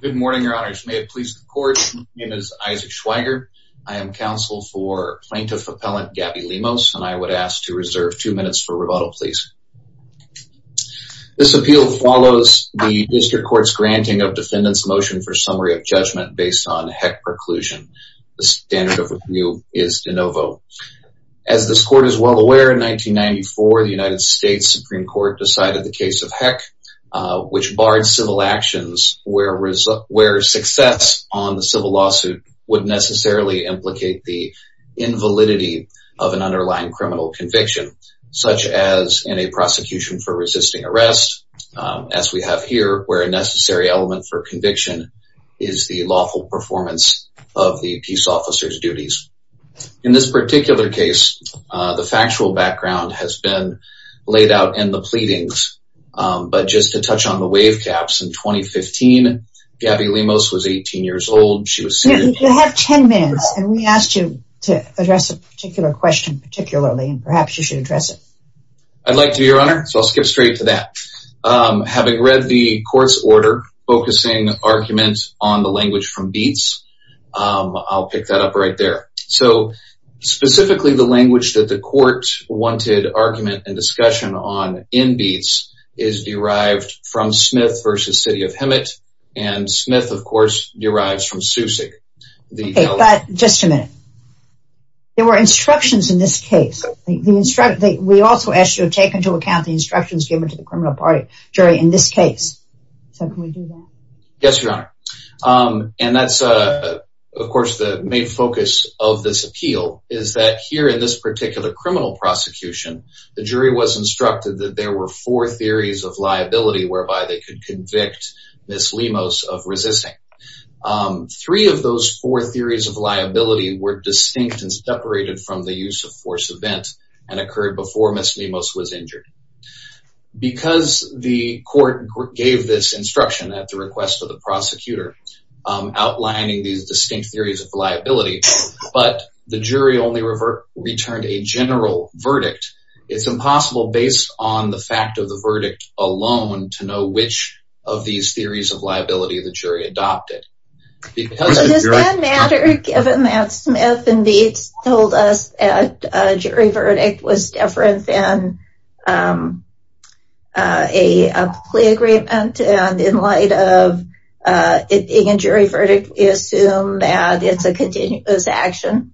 Good morning, your honors. May it please the court. My name is Isaac Schweiger. I am counsel for plaintiff appellant Gabbi Lemos, and I would ask to reserve two minutes for rebuttal, please. This appeal follows the district court's granting of defendants motion for summary of judgment based on HECC preclusion. The standard of review is de novo. As this court is well aware, in 1994, the United States Supreme Court decided the case of HECC, which barred civil actions where success on the civil lawsuit would necessarily implicate the invalidity of an underlying criminal conviction, such as in a prosecution for resisting arrest, as we have here, where a necessary element for conviction is the lawful performance of the peace officer's duties. In this particular case, the factual background has been laid out in the But just to touch on the wave caps, in 2015, Gabbi Lemos was 18 years old. She was seen- You have 10 minutes, and we asked you to address a particular question particularly, and perhaps you should address it. I'd like to, your honor. So I'll skip straight to that. Having read the court's order focusing argument on the language from Beetz, I'll pick that up right there. So specifically the language that the court wanted argument and discussion on in Beetz is derived from Smith versus city of Hemet, and Smith, of course, derives from Susick, the- Okay, but just a minute. There were instructions in this case. We also asked you to take into account the instructions given to the criminal party jury in this case. So can we do that? Yes, your honor. And that's, of course, the main focus of this appeal is that here in this case, there were four theories of liability whereby they could convict Ms. Lemos of resisting. Three of those four theories of liability were distinct and separated from the use of force event and occurred before Ms. Lemos was injured. Because the court gave this instruction at the request of the prosecutor outlining these distinct theories of liability, but the jury only returned a general verdict. It's impossible based on the fact of the verdict alone to know which of these theories of liability the jury adopted. Does that matter given that Smith and Beetz told us that a jury verdict was different than a plea agreement? And in light of it being a jury verdict, we assume that it's a continuous action?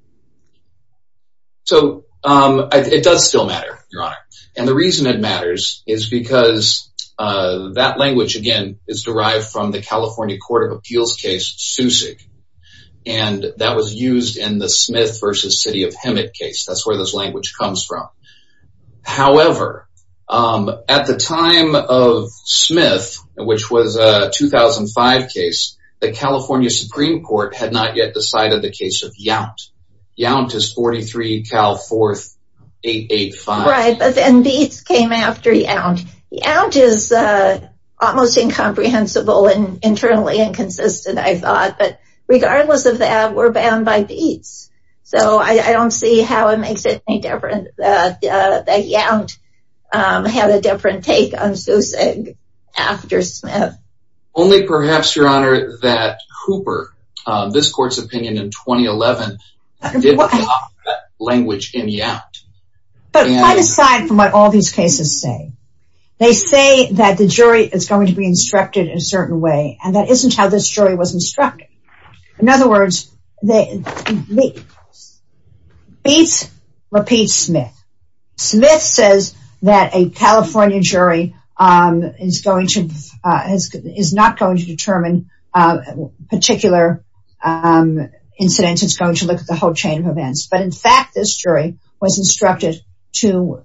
So it does still matter, your honor. And the reason it matters is because that language, again, is derived from the California Court of Appeals case, Susick, and that was used in the Smith versus City of Hemet case. That's where this language comes from. However, at the time of Smith, which was a 2005 case, the California Supreme Court had not yet decided the case of Yount. Yount is 43 Cal 4885. Right. But then Beetz came after Yount. Yount is almost incomprehensible and internally inconsistent, I thought. But regardless of that, we're bound by Beetz. So I don't see how it makes it any different that Yount had a different take on Susick after Smith. Only perhaps, your honor, that Hooper, this court's opinion in 2011, didn't talk that language in Yount. But quite aside from what all these cases say, they say that the jury is going to be instructed in a certain way, and that isn't how this jury was instructed. In other words, Beetz repeats Smith. Smith says that a California jury is not going to determine particular incidents. It's going to look at the whole chain of events. But in fact, this jury was instructed to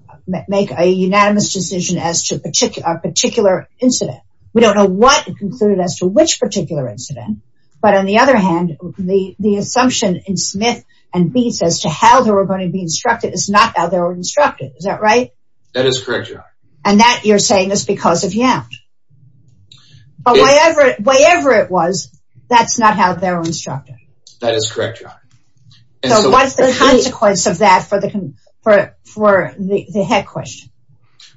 make a unanimous decision as to a particular incident. We don't know what it concluded as to which particular incident. But on the other hand, the assumption in Smith and Beetz as to how they were instructed, is that right? That is correct, your honor. And that you're saying is because of Yount. But whatever it was, that's not how they were instructed. That is correct, your honor. So what's the consequence of that for the heck question?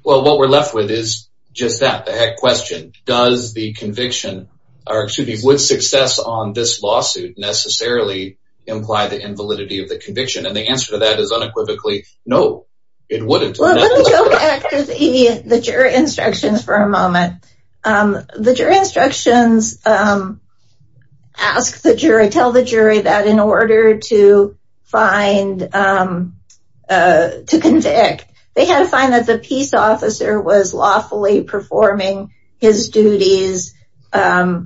Well, what we're left with is just that, the heck question. Does the conviction, or excuse me, would success on this lawsuit necessarily imply the invalidity of the conviction? And the answer to that is unequivocally, no, it wouldn't. Well, let me go back to the jury instructions for a moment. The jury instructions ask the jury, tell the jury that in order to find, to convict, they had to find that the peace officer was lawfully performing his duties and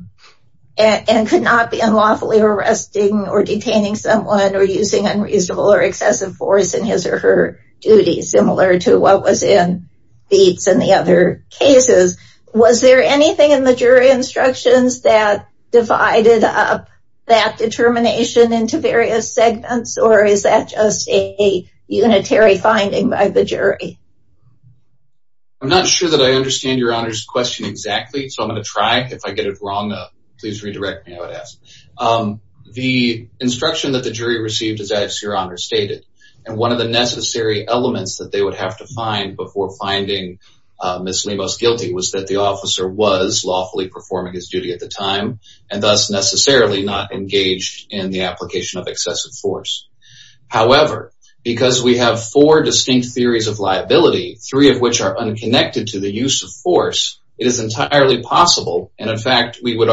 could not be unlawfully arresting or detaining someone or using unreasonable or excessive force in his or her duties, similar to what was in Beetz and the other cases. Was there anything in the jury instructions that divided up that determination into various segments, or is that just a unitary finding by the jury? I'm not sure that I understand your honor's question exactly, so I'm going to try, if I get it wrong, please redirect me, I would ask. The instruction that the jury received, as your honor stated, and one of the necessary elements that they would have to find before finding Ms. Lemos guilty was that the officer was lawfully performing his duty at the time and thus necessarily not engaged in the application of excessive force. However, because we have four distinct theories of liability, three of which are unconnected to the use of force, it is entirely possible, and in fact, we believe,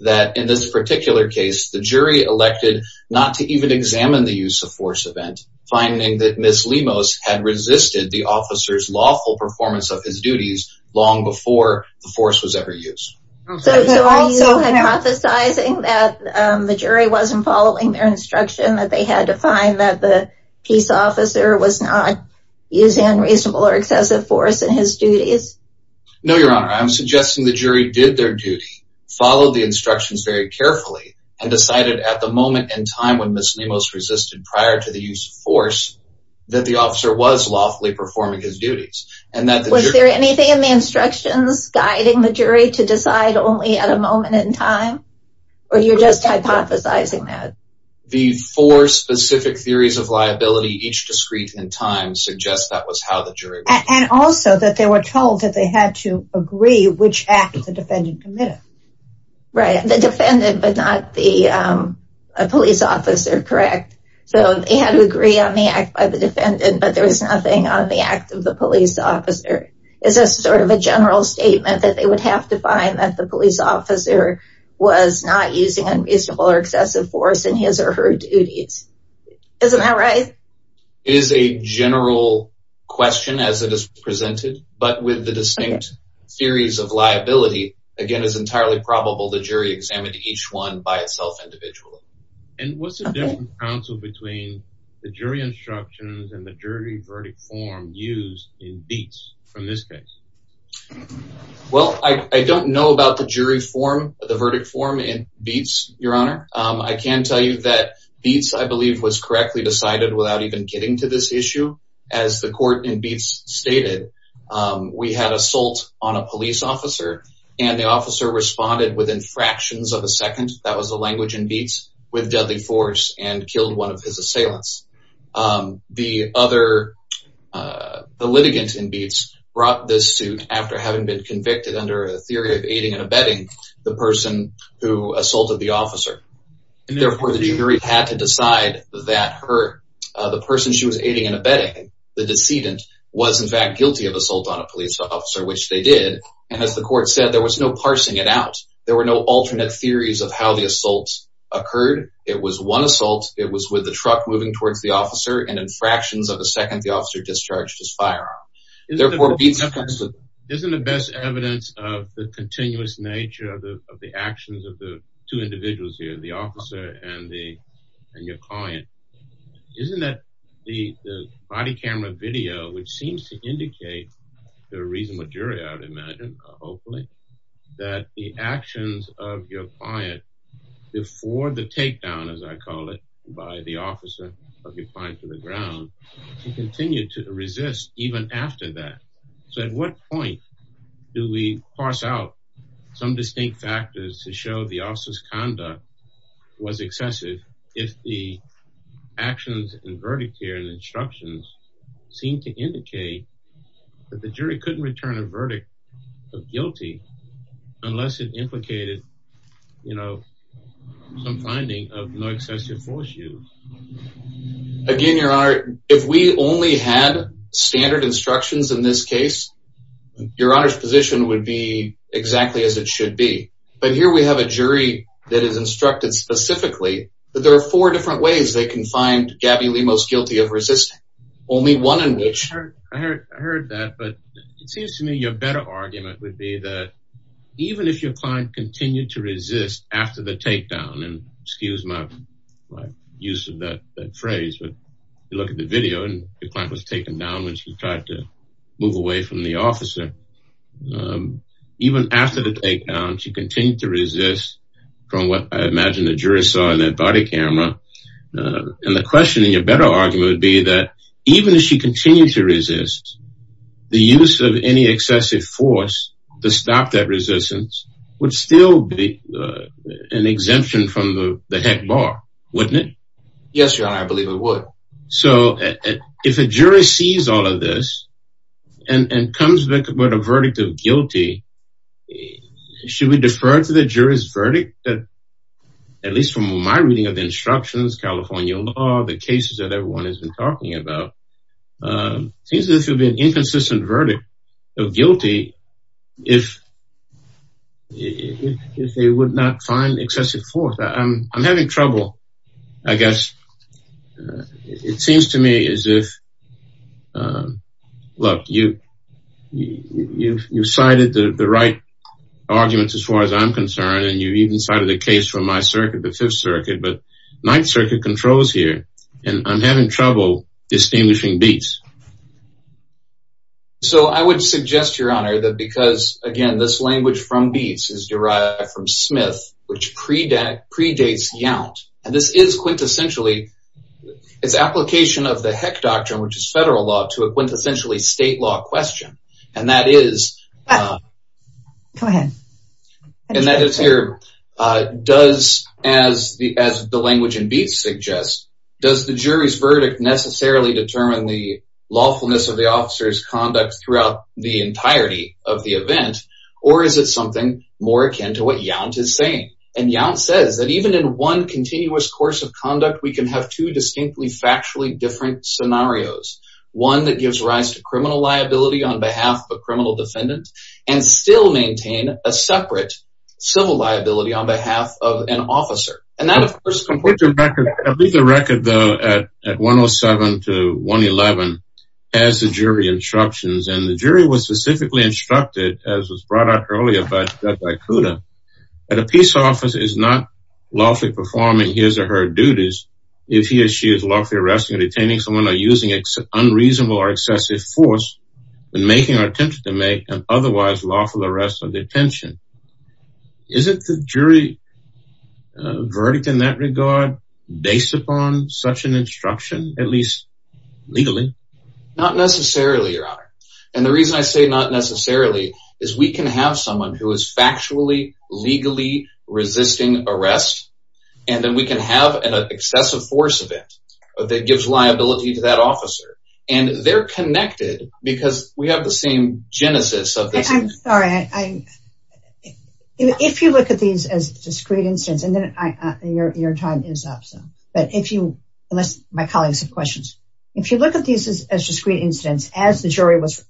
that in this particular case, the jury elected not to even examine the use of force event, finding that Ms. Lemos had resisted the officer's lawful performance of his duties long before the force was ever used. So are you hypothesizing that the jury wasn't following their instruction, that they had to find that the peace officer was not using unreasonable or excessive force in his duties? No, your honor, I'm suggesting the jury did their duty, followed the instructions very carefully, and decided at the moment in time when Ms. Lemos resisted prior to the use of force, that the officer was lawfully performing his duties and that... Was there anything in the instructions guiding the jury to decide only at a moment in time, or you're just hypothesizing that? The four specific theories of liability, each discrete in time, suggests that was how the jury... And also that they were told that they had to agree which act the defendant committed. Right. The defendant, but not the police officer, correct? So they had to agree on the act by the defendant, but there was nothing on the act of the police officer. Is this sort of a general statement that they would have to find that the police officer was not using unreasonable or excessive force in his or her duties? Isn't that right? It is a general question as it is presented, but with the distinct theories of liability, again, it's entirely probable the jury examined each one by itself individually. And what's the difference counsel between the jury instructions and the jury verdict form used in Beetz from this case? Well, I don't know about the jury form, the verdict form in Beetz, Your Honor. I can tell you that Beetz, I believe, was correctly decided without even getting to this issue. As the court in Beetz stated, we had assault on a police officer and the officer responded within fractions of a second. That was the language in Beetz, with deadly force and killed one of his assailants. The litigant in Beetz brought this suit after having been convicted under a theory of aiding and abetting the person who assaulted the officer. And therefore the jury had to decide that the person she was aiding and abetting, the decedent, was in fact guilty of assault on a police officer, which they did. And as the court said, there was no parsing it out. There were no alternate theories of how the assaults occurred. It was one assault. It was with the truck moving towards the officer and in fractions of a second, the officer discharged his firearm. Isn't the best evidence of the continuous nature of the actions of the two individuals here, the officer and your client. Isn't that the body camera video, which seems to indicate the reason what jury I would imagine, hopefully, that the actions of your client before the takedown, as I call it, by the officer of your client to the ground, you continue to resist even after that. So at what point do we parse out some distinct factors to show the officer's if the actions and verdict here and instructions seem to indicate that the jury couldn't return a verdict of guilty unless it implicated, you know, some finding of no excessive force use. Again, your honor, if we only had standard instructions in this case, your honor's position would be exactly as it should be. But here we have a jury that is instructed specifically that there are four different ways they can find Gabby Lee most guilty of resisting, only one in which- I heard that, but it seems to me your better argument would be that even if your client continued to resist after the takedown, and excuse my use of that phrase, but you look at the video and your client was taken down when she tried to move away from the officer. Even after the takedown, she continued to resist from what I imagine the jury saw in that body camera. And the question in your better argument would be that even if she continued to resist, the use of any excessive force to stop that resistance would still be an exemption from the heck bar, wouldn't it? Yes, your honor, I believe it would. So, if a jury sees all of this and comes back with a verdict of guilty, should we defer to the jury's verdict that, at least from my reading of the instructions, California law, the cases that everyone has been talking about, seems this would be an inconsistent verdict of guilty if they would not find excessive force. I'm having trouble, I guess. It seems to me as if, look, you cited the right arguments as far as I'm concerned, and you even cited a case from my circuit, the Fifth Circuit, but Ninth Circuit controls here, and I'm having trouble distinguishing beats. So, I would suggest, your honor, that because, again, this language from beats is derived from Smith, which predates Yount, and this is quintessentially, it's application of the heck doctrine, which is federal law, to a quintessentially state law question, and that is... Go ahead. And that is here, does, as the language in beats suggests, does the jury's verdict necessarily determine the lawfulness of the officer's conduct throughout the case, more akin to what Yount is saying. And Yount says that even in one continuous course of conduct, we can have two distinctly, factually different scenarios. One that gives rise to criminal liability on behalf of a criminal defendant, and still maintain a separate civil liability on behalf of an officer. And that, of course... I'll leave the record, though, at 107 to 111, as the jury instructions, and the jury was specifically instructed, as was brought up earlier by Kuda, that a peace officer is not lawfully performing his or her duties if he or she is lawfully arresting or detaining someone or using unreasonable or excessive force in making or attempt to make an otherwise lawful arrest or detention. Isn't the jury verdict in that regard based upon such an instruction, at least legally? Not necessarily, your honor. And the reason I say not necessarily is we can have someone who is factually, legally resisting arrest, and then we can have an excessive force event that gives liability to that officer. And they're connected because we have the same genesis of this. I'm sorry. If you look at these as discrete incidents, and then your time is up, so... But if you... Unless my colleagues have questions. If you look at these as discrete incidents, as the jury was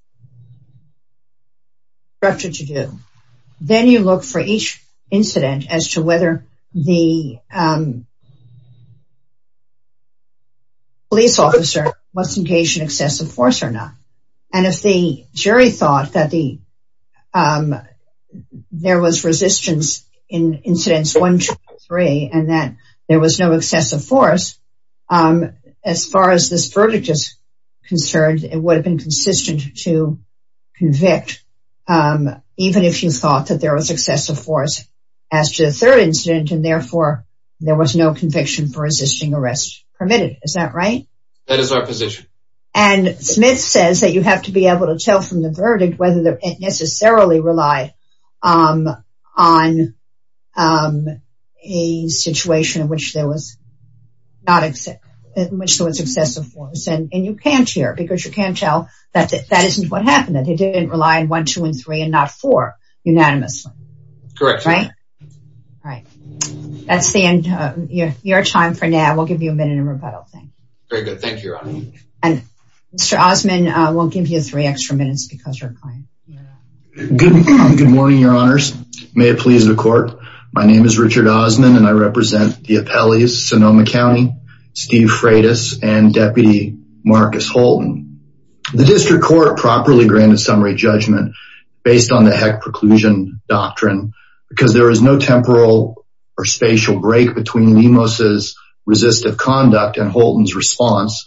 instructed to do, then you look for each incident as to whether the police officer was engaged in excessive force or not. And if the jury thought that there was resistance in incidents one, two, three, and there was no excessive force, as far as this verdict is concerned, it would have been consistent to convict even if you thought that there was excessive force as to the third incident. And therefore, there was no conviction for resisting arrest permitted. Is that right? That is our position. And Smith says that you have to be able to tell from the verdict whether they necessarily rely on a situation in which there was excessive force. And you can't here, because you can't tell that that isn't what happened, that they didn't rely on one, two, and three, and not four, unanimously. Correct. Right? Right. That's the end of your time for now. We'll give you a minute in rebuttal. Thank you. Very good. Thank you, Your Honor. And Mr. Osmond, we'll give you three extra minutes because you're a client. Good morning, Your Honors. May it please the court. My name is Richard Osmond, and I represent the appellees, Sonoma County, Steve Freitas, and Deputy Marcus Holton. The district court properly granted summary judgment based on the heck preclusion doctrine, because there was no temporal or spatial break between Lemos's resistive conduct and Holton's response.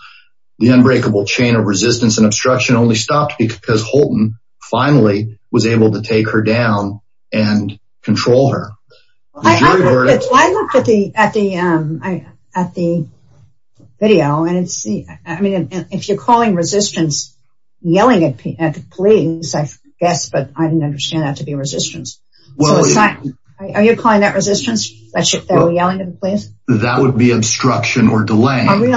The unbreakable chain of resistance and obstruction only stopped because Holton finally was able to take her down and control her. I looked at the video, and I mean, if you're calling resistance, yelling at the police, I guess, but I didn't understand that to be resistance. Are you calling that resistance? That would be obstruction or delay. I mean,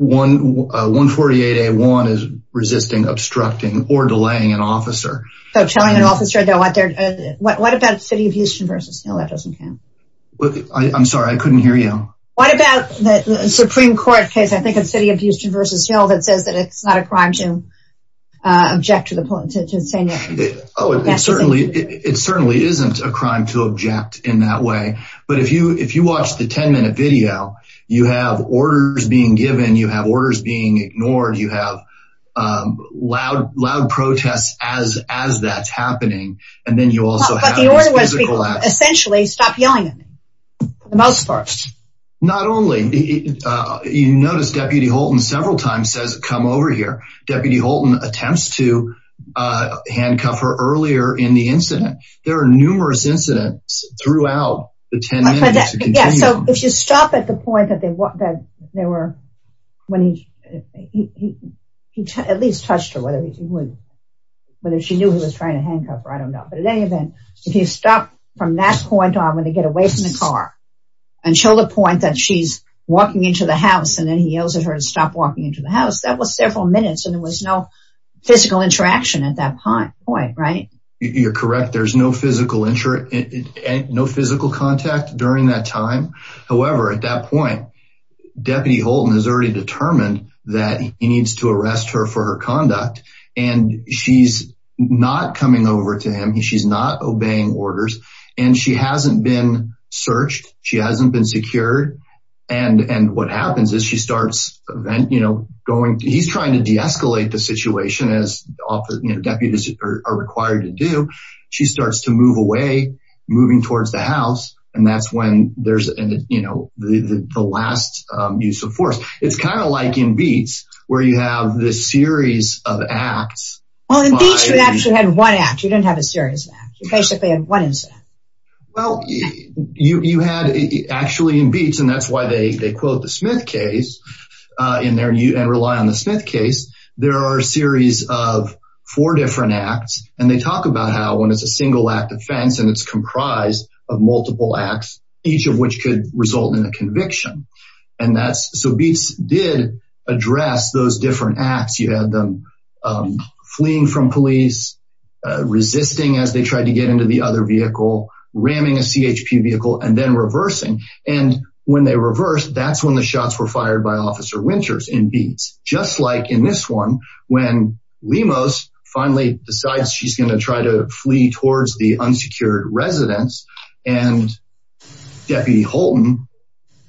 148A1 is resisting, obstructing, or delaying an officer. So telling an officer, what about City of Houston v. Hill? That doesn't count. I'm sorry, I couldn't hear you. What about the Supreme Court case, I think it's City of Houston v. Hill, that says that it's not a crime to object to the police, to say no. Oh, it certainly isn't a crime to object in that way. But if you watch the 10-minute video, you have orders being given, you have orders being ignored, you have loud protests as that's happening, and then you also have this physical action. But the order was essentially, stop yelling at me, for the most part. Not only. You notice Deputy Holton several times says, come over here. Deputy Holton attempts to handcuff her earlier in the incident. There are numerous incidents throughout the 10 minutes. But yeah, so if you stop at the point that they were, when he, he at least touched her, whether he wouldn't, whether she knew he was trying to handcuff her, I don't know. But in any event, if you stop from that point on, when they get away from the car, until the point that she's walking into the house, and then he yells at her to stop walking into the house, that was several minutes, and there was no physical interaction at that point, right? You're correct. There's no physical contact during that time. However, at that point, Deputy Holton has already determined that he needs to arrest her for her conduct. And she's not coming over to him. She's not obeying orders. And she hasn't been searched. She hasn't been secured. And what happens is she starts, you know, going, he's trying to deescalate the situation as deputies are required to do. She starts to move away, moving towards the house. And that's when there's, you know, the last use of force. It's kind of like in Beats, where you have this series of acts. Well, in Beats, you actually had one act. You didn't have a series of acts. You basically had one incident. Well, you had actually in Beats, and that's why they quote the Smith case in there, and rely on the Smith case. There are a series of four different acts. And they talk about how when it's a single act offense, and it's comprised of multiple acts, each of which could result in a conviction. And that's so Beats did address those different acts. You had them fleeing from police, resisting as they tried to get into the other vehicle, ramming a CHP vehicle, and then reversing. And when they reversed, that's when the shots were fired by Officer Winters in Beats. Just like in this one, when Lemos finally decides she's going to try to flee towards the unsecured residence, and Deputy Holton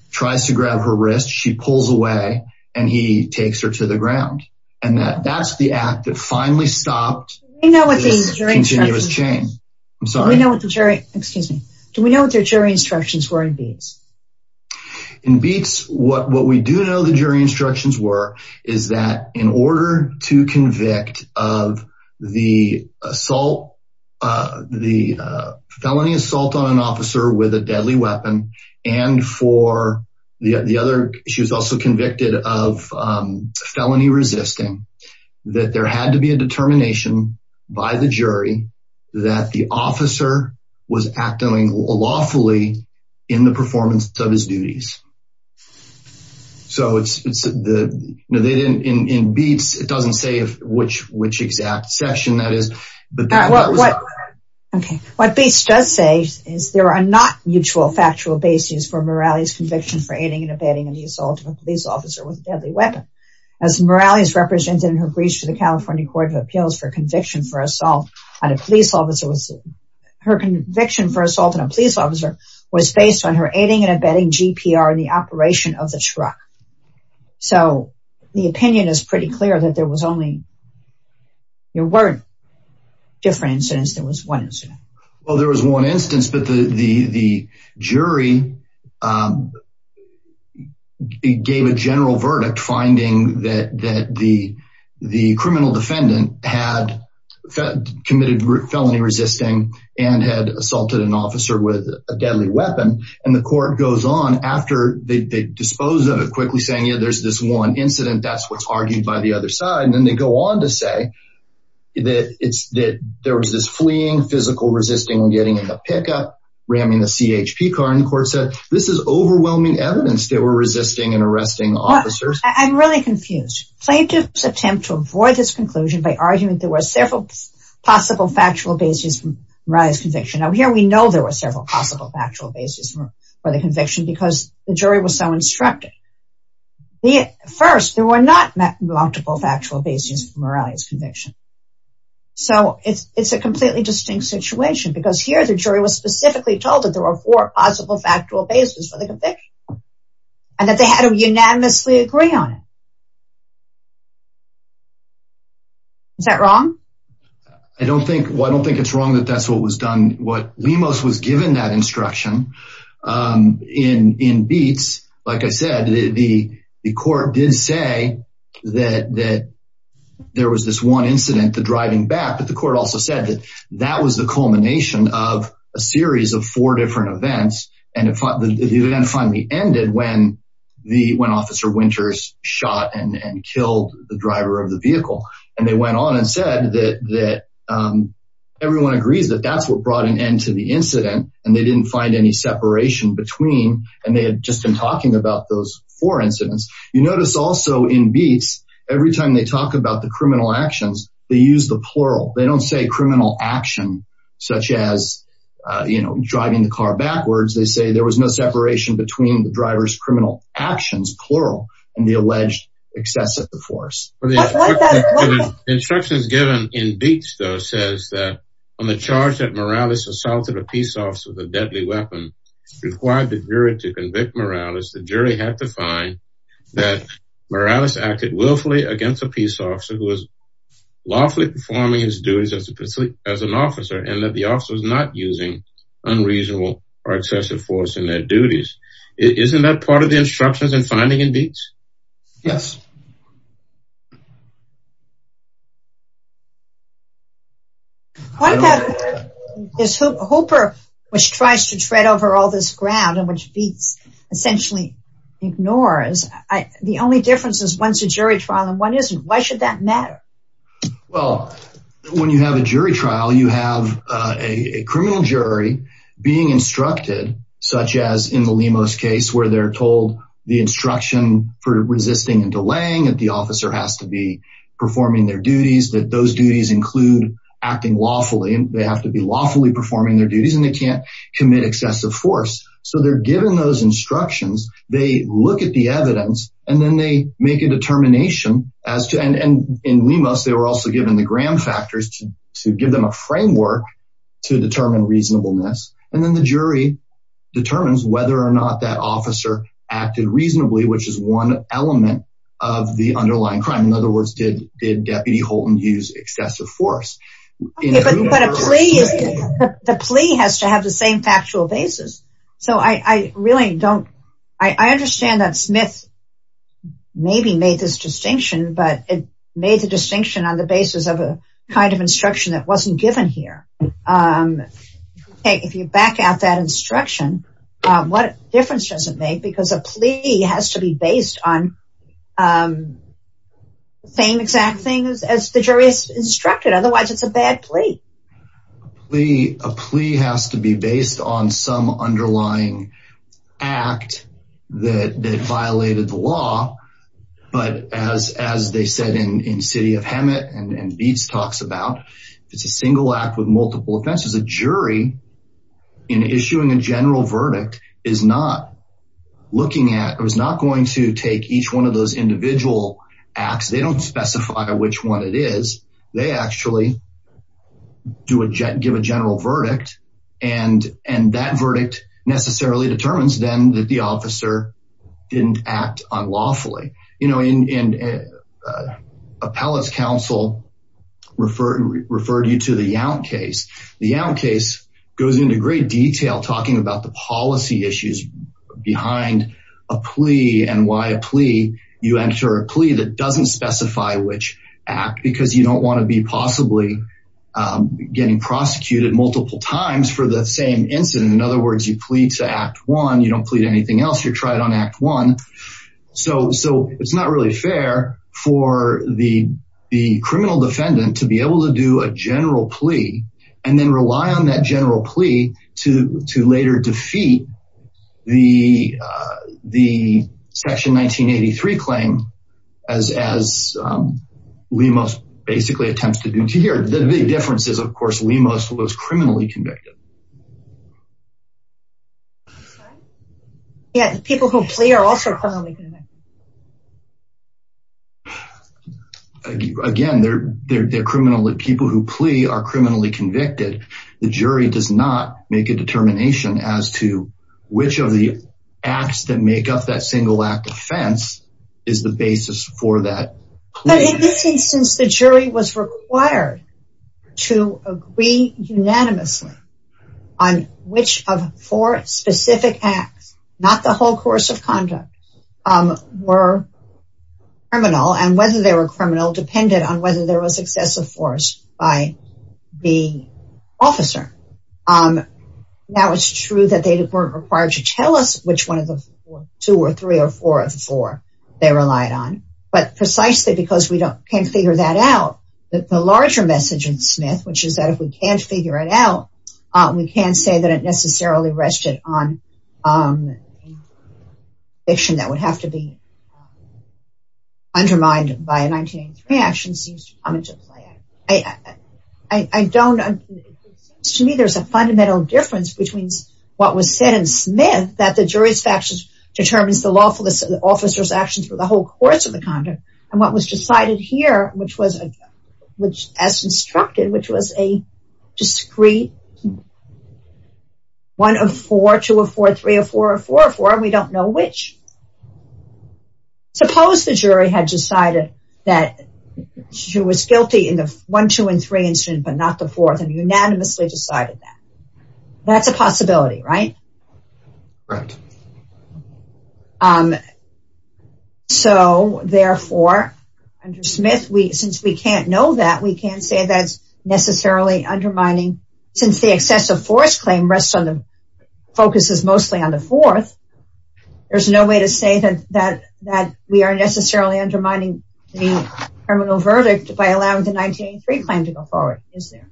tries to grab her wrist. She pulls away, and he takes her to the ground. And that's the act that finally stopped this continuous chain. Do we know what their jury instructions were in Beats? In Beats, what we do know the jury instructions were, is that in order to convict of the assault, the felony assault on an officer with a deadly weapon, and for the other, she was also convicted of felony resisting, that there had to be a determination by the jury that the officer was acting lawfully in the performance of his duties. So in Beats, it doesn't say which exact session that is. Okay, what Beats does say is there are not mutual factual bases for Morales' conviction for aiding and abetting an assault of a police officer with a deadly weapon. As Morales represented in her breach to the California Court of Appeals for conviction for assault on a police officer with, her conviction for assault on a police officer was based on her aiding and abetting GPR in the operation of the truck. So the opinion is pretty clear that there was only, there weren't different incidents, there was one incident. Well, there was one instance, but the jury gave a general verdict finding that the criminal defendant had committed felony resisting and had assaulted an officer with a deadly weapon. And the court goes on after they dispose of it, quickly saying, yeah, there's this one incident, that's what's argued by the other side. And then they go on to say that there was this fleeing, physical resisting, getting in the pickup, ramming the CHP car, and the court said, this is overwhelming evidence they were resisting and arresting officers. I'm really confused. Plaintiffs attempt to avoid this conclusion by arguing there were several possible factual bases for Morales' conviction. Now here we know there were several possible factual bases for the conviction because the jury was so instructive. First, there were not multiple factual bases for Morales' conviction. So it's a completely distinct situation because here the jury was specifically told that there were four possible factual bases for the conviction and that they had to unanimously agree on it. Is that wrong? I don't think, I don't think it's wrong that that's what was done. What Lemos was given that instruction in Beetz, like I said, the court did say that there was this one incident, the driving back, but the court also said that that was the culmination of a series of four different events. And the event finally ended when the, when officer Winters shot and killed the driver of the vehicle. And they went on and said that everyone agrees that that's what brought an end to the incident. And they didn't find any separation between, and they had just been talking about those four incidents. You notice also in Beetz, every time they talk about the criminal actions, they use the plural. They don't say criminal action, such as, you know, driving the car backwards. They say there was no separation between the driver's criminal actions, plural, and the alleged excess of the force. Instructions given in Beetz though says that on the charge that Morales assaulted a peace officer with a deadly weapon required the jury to convict Morales. The jury had to find that Morales acted willfully against a peace officer who was lawfully performing his duties as an officer and that the officer was not using unreasonable or excessive force in their duties. Isn't that part of the instructions in finding in Beetz? Yes. What about this Hooper which tries to tread over all this ground and which Beetz essentially ignores? The only difference is one's a jury trial and one isn't. Why should that matter? Well, when you have a jury trial, you have a criminal jury being instructed, such as in the Lemos case where they're told the instruction for resisting and delaying that the officer has to be performing their duties, that those duties include acting lawfully and they have to be lawfully performing their duties and they can't commit excessive force. So they're given those instructions. They look at the evidence and then they make a determination as to and in Lemos, they were also given the gram factors to give them a framework to determine reasonableness. And then the jury determines whether or not that officer acted reasonably, which is one element of the underlying crime. In other words, did Deputy Holton use excessive force? The plea has to have the same factual basis. So I really don't, I understand that Smith maybe made this distinction, but it made the distinction on the basis of a kind of instruction that wasn't given here. If you back out that instruction, what difference does it make? Because a plea has to be based on the same exact things as the jury is instructed. Otherwise, it's a bad plea. A plea has to be based on some underlying act that violated the law. But as they said in City of Hammett and Beetz talks about, if it's a single act with multiple offenses, a jury in issuing a general verdict is not looking at, or is not going to take each one of those individual acts. They don't specify which one it is. They actually give a general verdict and that verdict necessarily determines then that the officer didn't act unlawfully. You know, appellate's counsel referred you to the Yount case. The Yount case goes into great detail talking about the policy issues behind a plea and you enter a plea that doesn't specify which act because you don't want to be possibly getting prosecuted multiple times for the same incident. In other words, you plead to act one. You don't plead anything else. You're tried on act one. So it's not really fair for the criminal defendant to be able to do a general plea and then rely on that general plea to later defeat the Section 1983 claim as Lemos basically attempts to do to here. The big difference is, of course, Lemos was criminally convicted. Yeah, people who plea are also criminally convicted. Again, they're criminally, people who plea are criminally convicted. The jury does not make a determination as to which of the acts that make up that single act offense is the basis for that. But in this instance, the jury was required to agree unanimously on which of four specific acts, not the whole course of conduct, were criminal and whether they were criminal depended on whether there was excessive force by the officer. Now it's true that they weren't required to tell us which one of the two or three or four of the four they relied on. But precisely because we can't figure that out, the larger message in Smith, which is that if we can't figure it out, we can't say that it necessarily rested on fiction that would have to be undermined by a 1983 action seems to come into play. I don't, it seems to me there's a fundamental difference between what was said in Smith, that the jury's actions determines the lawful officer's actions for the whole course of the conduct, and what was decided here, which was, as instructed, which was a discrete one of four, two of four, three of four, four of four, and we don't know which. Suppose the jury had decided that she was guilty in the one, two, and three incident, but not the fourth, and unanimously decided that. That's a possibility, right? Right. So, therefore, under Smith, since we can't know that, we can't say that's necessarily undermining, since the excessive force claim rests on the, focuses mostly on the fourth. There's no way to say that we are necessarily undermining the criminal verdict by allowing the 1983 claim to go forward, is there?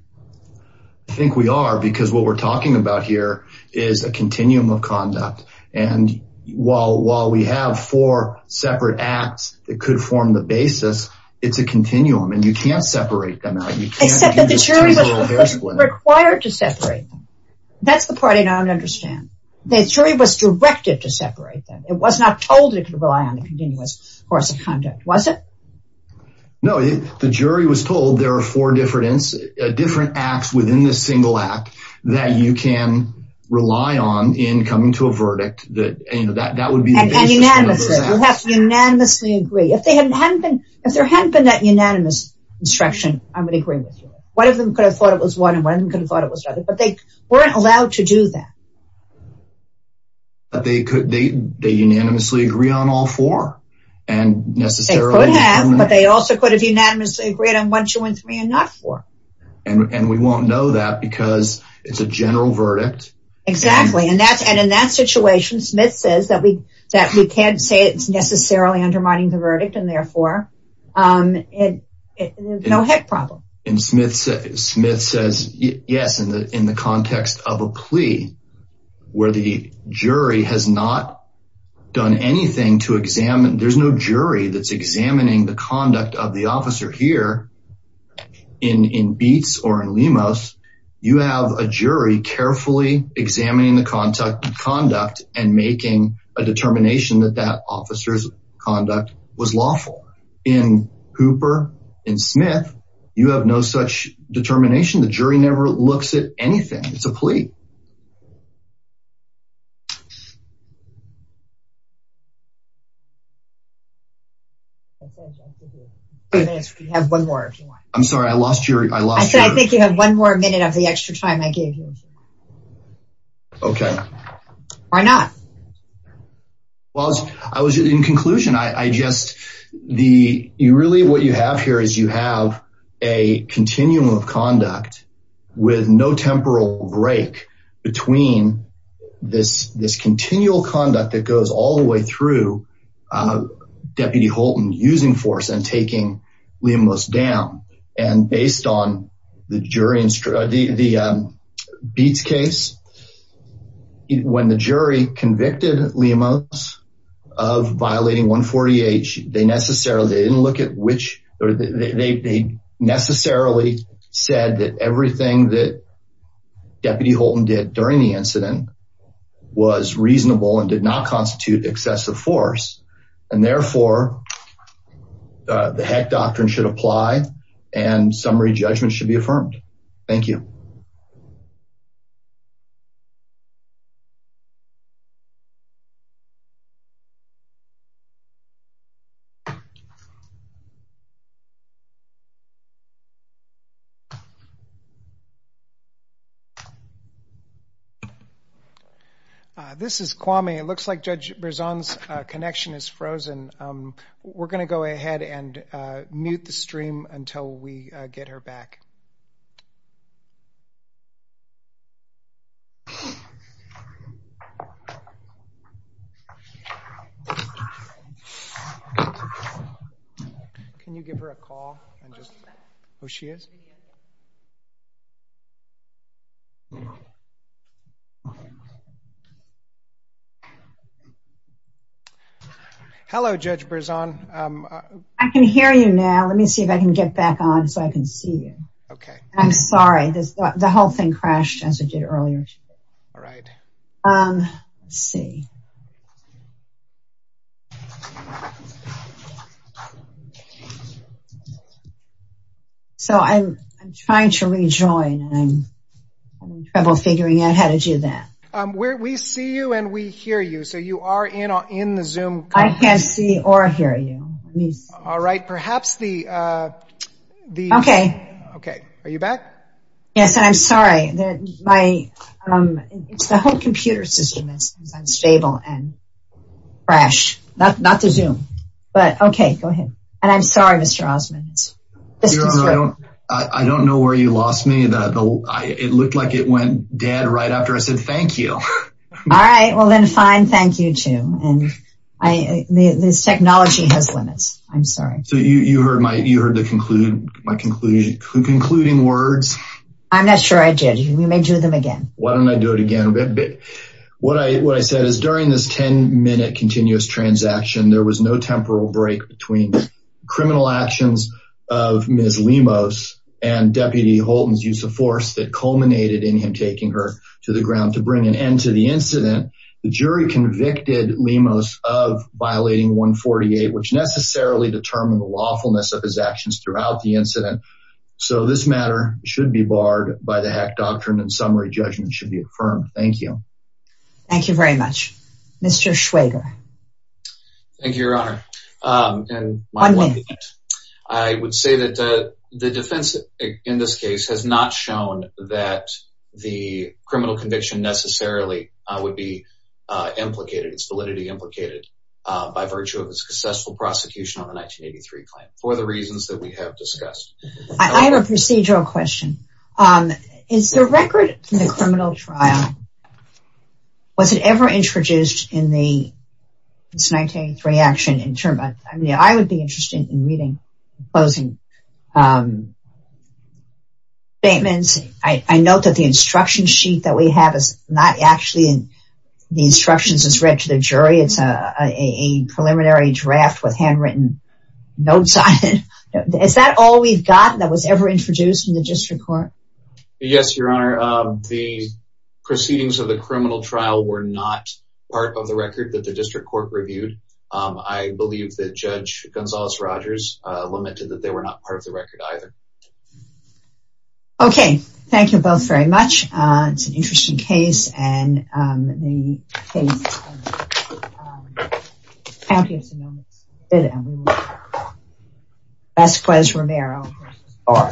I think we are, because what we're talking about here is a continuum of conduct. And while we have four separate acts that could form the basis, it's a continuum, and you can't separate them out. Except that the jury was required to separate. That's the part I don't understand. The jury was directed to separate them. It was not told it could rely on the continuous course of conduct, was it? No, the jury was told there are four different acts within this single act that you can rely on in coming to a verdict that, you know, that would be the basis of those acts. You have to unanimously agree. If there hadn't been that unanimous instruction, I would agree with you. One of them could have thought it was one, and one of them could have thought it was another, but they weren't allowed to do that. But they could, they unanimously agree on all four, and necessarily... They could have, but they also could have unanimously agreed on one, two, and three, and not four. And we won't know that because it's a general verdict. Exactly, and in that situation, Smith says that we can't say it's necessarily undermining the verdict, and therefore, no heck problem. And Smith says, yes, in the context of a plea where the jury has not done anything to examine. There's no jury that's examining the conduct of the officer here in Beetz or in Lemos. You have a jury carefully examining the conduct and making a determination that that officer's conduct was lawful. In Hooper, in Smith, you have no such determination. The jury never looks at anything. It's a plea. We have one more, if you want. I'm sorry, I lost your... I said, I think you have one more minute of the extra time I gave you. Okay. Why not? Well, I was in conclusion. I just, the, you really, what you have here is you have a continuum of conduct with no temporal break between this continual conduct that goes all the way through Deputy Holton using force and taking Lemos down. And based on the jury, the Beetz case, when the jury convicted Lemos of violating 140H, they necessarily didn't look at which, they necessarily said that everything that Deputy Holton did during the incident was reasonable and did not constitute excessive force. And therefore, the heck doctrine should apply and summary judgment should be affirmed. Thank you. This is Kwame. It looks like Judge Berzon's connection is frozen. We're going to go ahead and mute the stream until we get her back. Can you give her a call and just who she is? Hello, Judge Berzon. I can hear you now. Let me see if I can get back on so I can see you. Okay. I'm sorry. The whole thing crashed as it did earlier. All right. Let's see. So I'm trying to rejoin and I'm having trouble figuring out how to do that. We see you and we hear you. So you are in the Zoom. I can't see or hear you. All right. Perhaps the... Okay. Okay. Are you back? Yes. And I'm sorry that my... It's the whole computer system is unstable and crash, not the Zoom. But okay, go ahead. And I'm sorry, Mr. Osmond. I don't know where you lost me. It looked like it went dead right after I said thank you. All right. Well, then fine. Thank you, too. And this technology has limits. I'm sorry. So you heard my concluding words? I'm not sure I did. We may do them again. Why don't I do it again? What I said is during this 10-minute continuous transaction, there was no temporal break between criminal actions of Ms. Lemos and Deputy Holton's use of force that culminated in him taking her to the ground to bring an end to the incident. The jury convicted Lemos of violating 148, which necessarily determined the lawfulness of his actions throughout the incident. So this matter should be barred by the HAC doctrine, and summary judgment should be affirmed. Thank you. Mr. Schwager. Thank you, Your Honor. And I would say that the defense in this case has not shown that the criminal conviction necessarily would be implicated. It's validity implicated by virtue of a successful prosecution on the 1983 claim for the reasons that we have discussed. I have a procedural question. Is the record from the criminal trial, was it ever introduced in the 1983 action? In terms of, I mean, I would be interested in reading the closing statements. I note that the instruction sheet that we have is not actually in the instructions that's read to the jury. It's a preliminary draft with handwritten notes on it. Is that all we've got that was ever introduced in the district court? Yes, Your Honor. The proceedings of the criminal trial were not part of the record that the district court reviewed. I believe that Judge Gonzalez-Rogers lamented that they were not part of the record either. Okay. Thank you both very much. It's an interesting case. Vasquez-Romero v. R.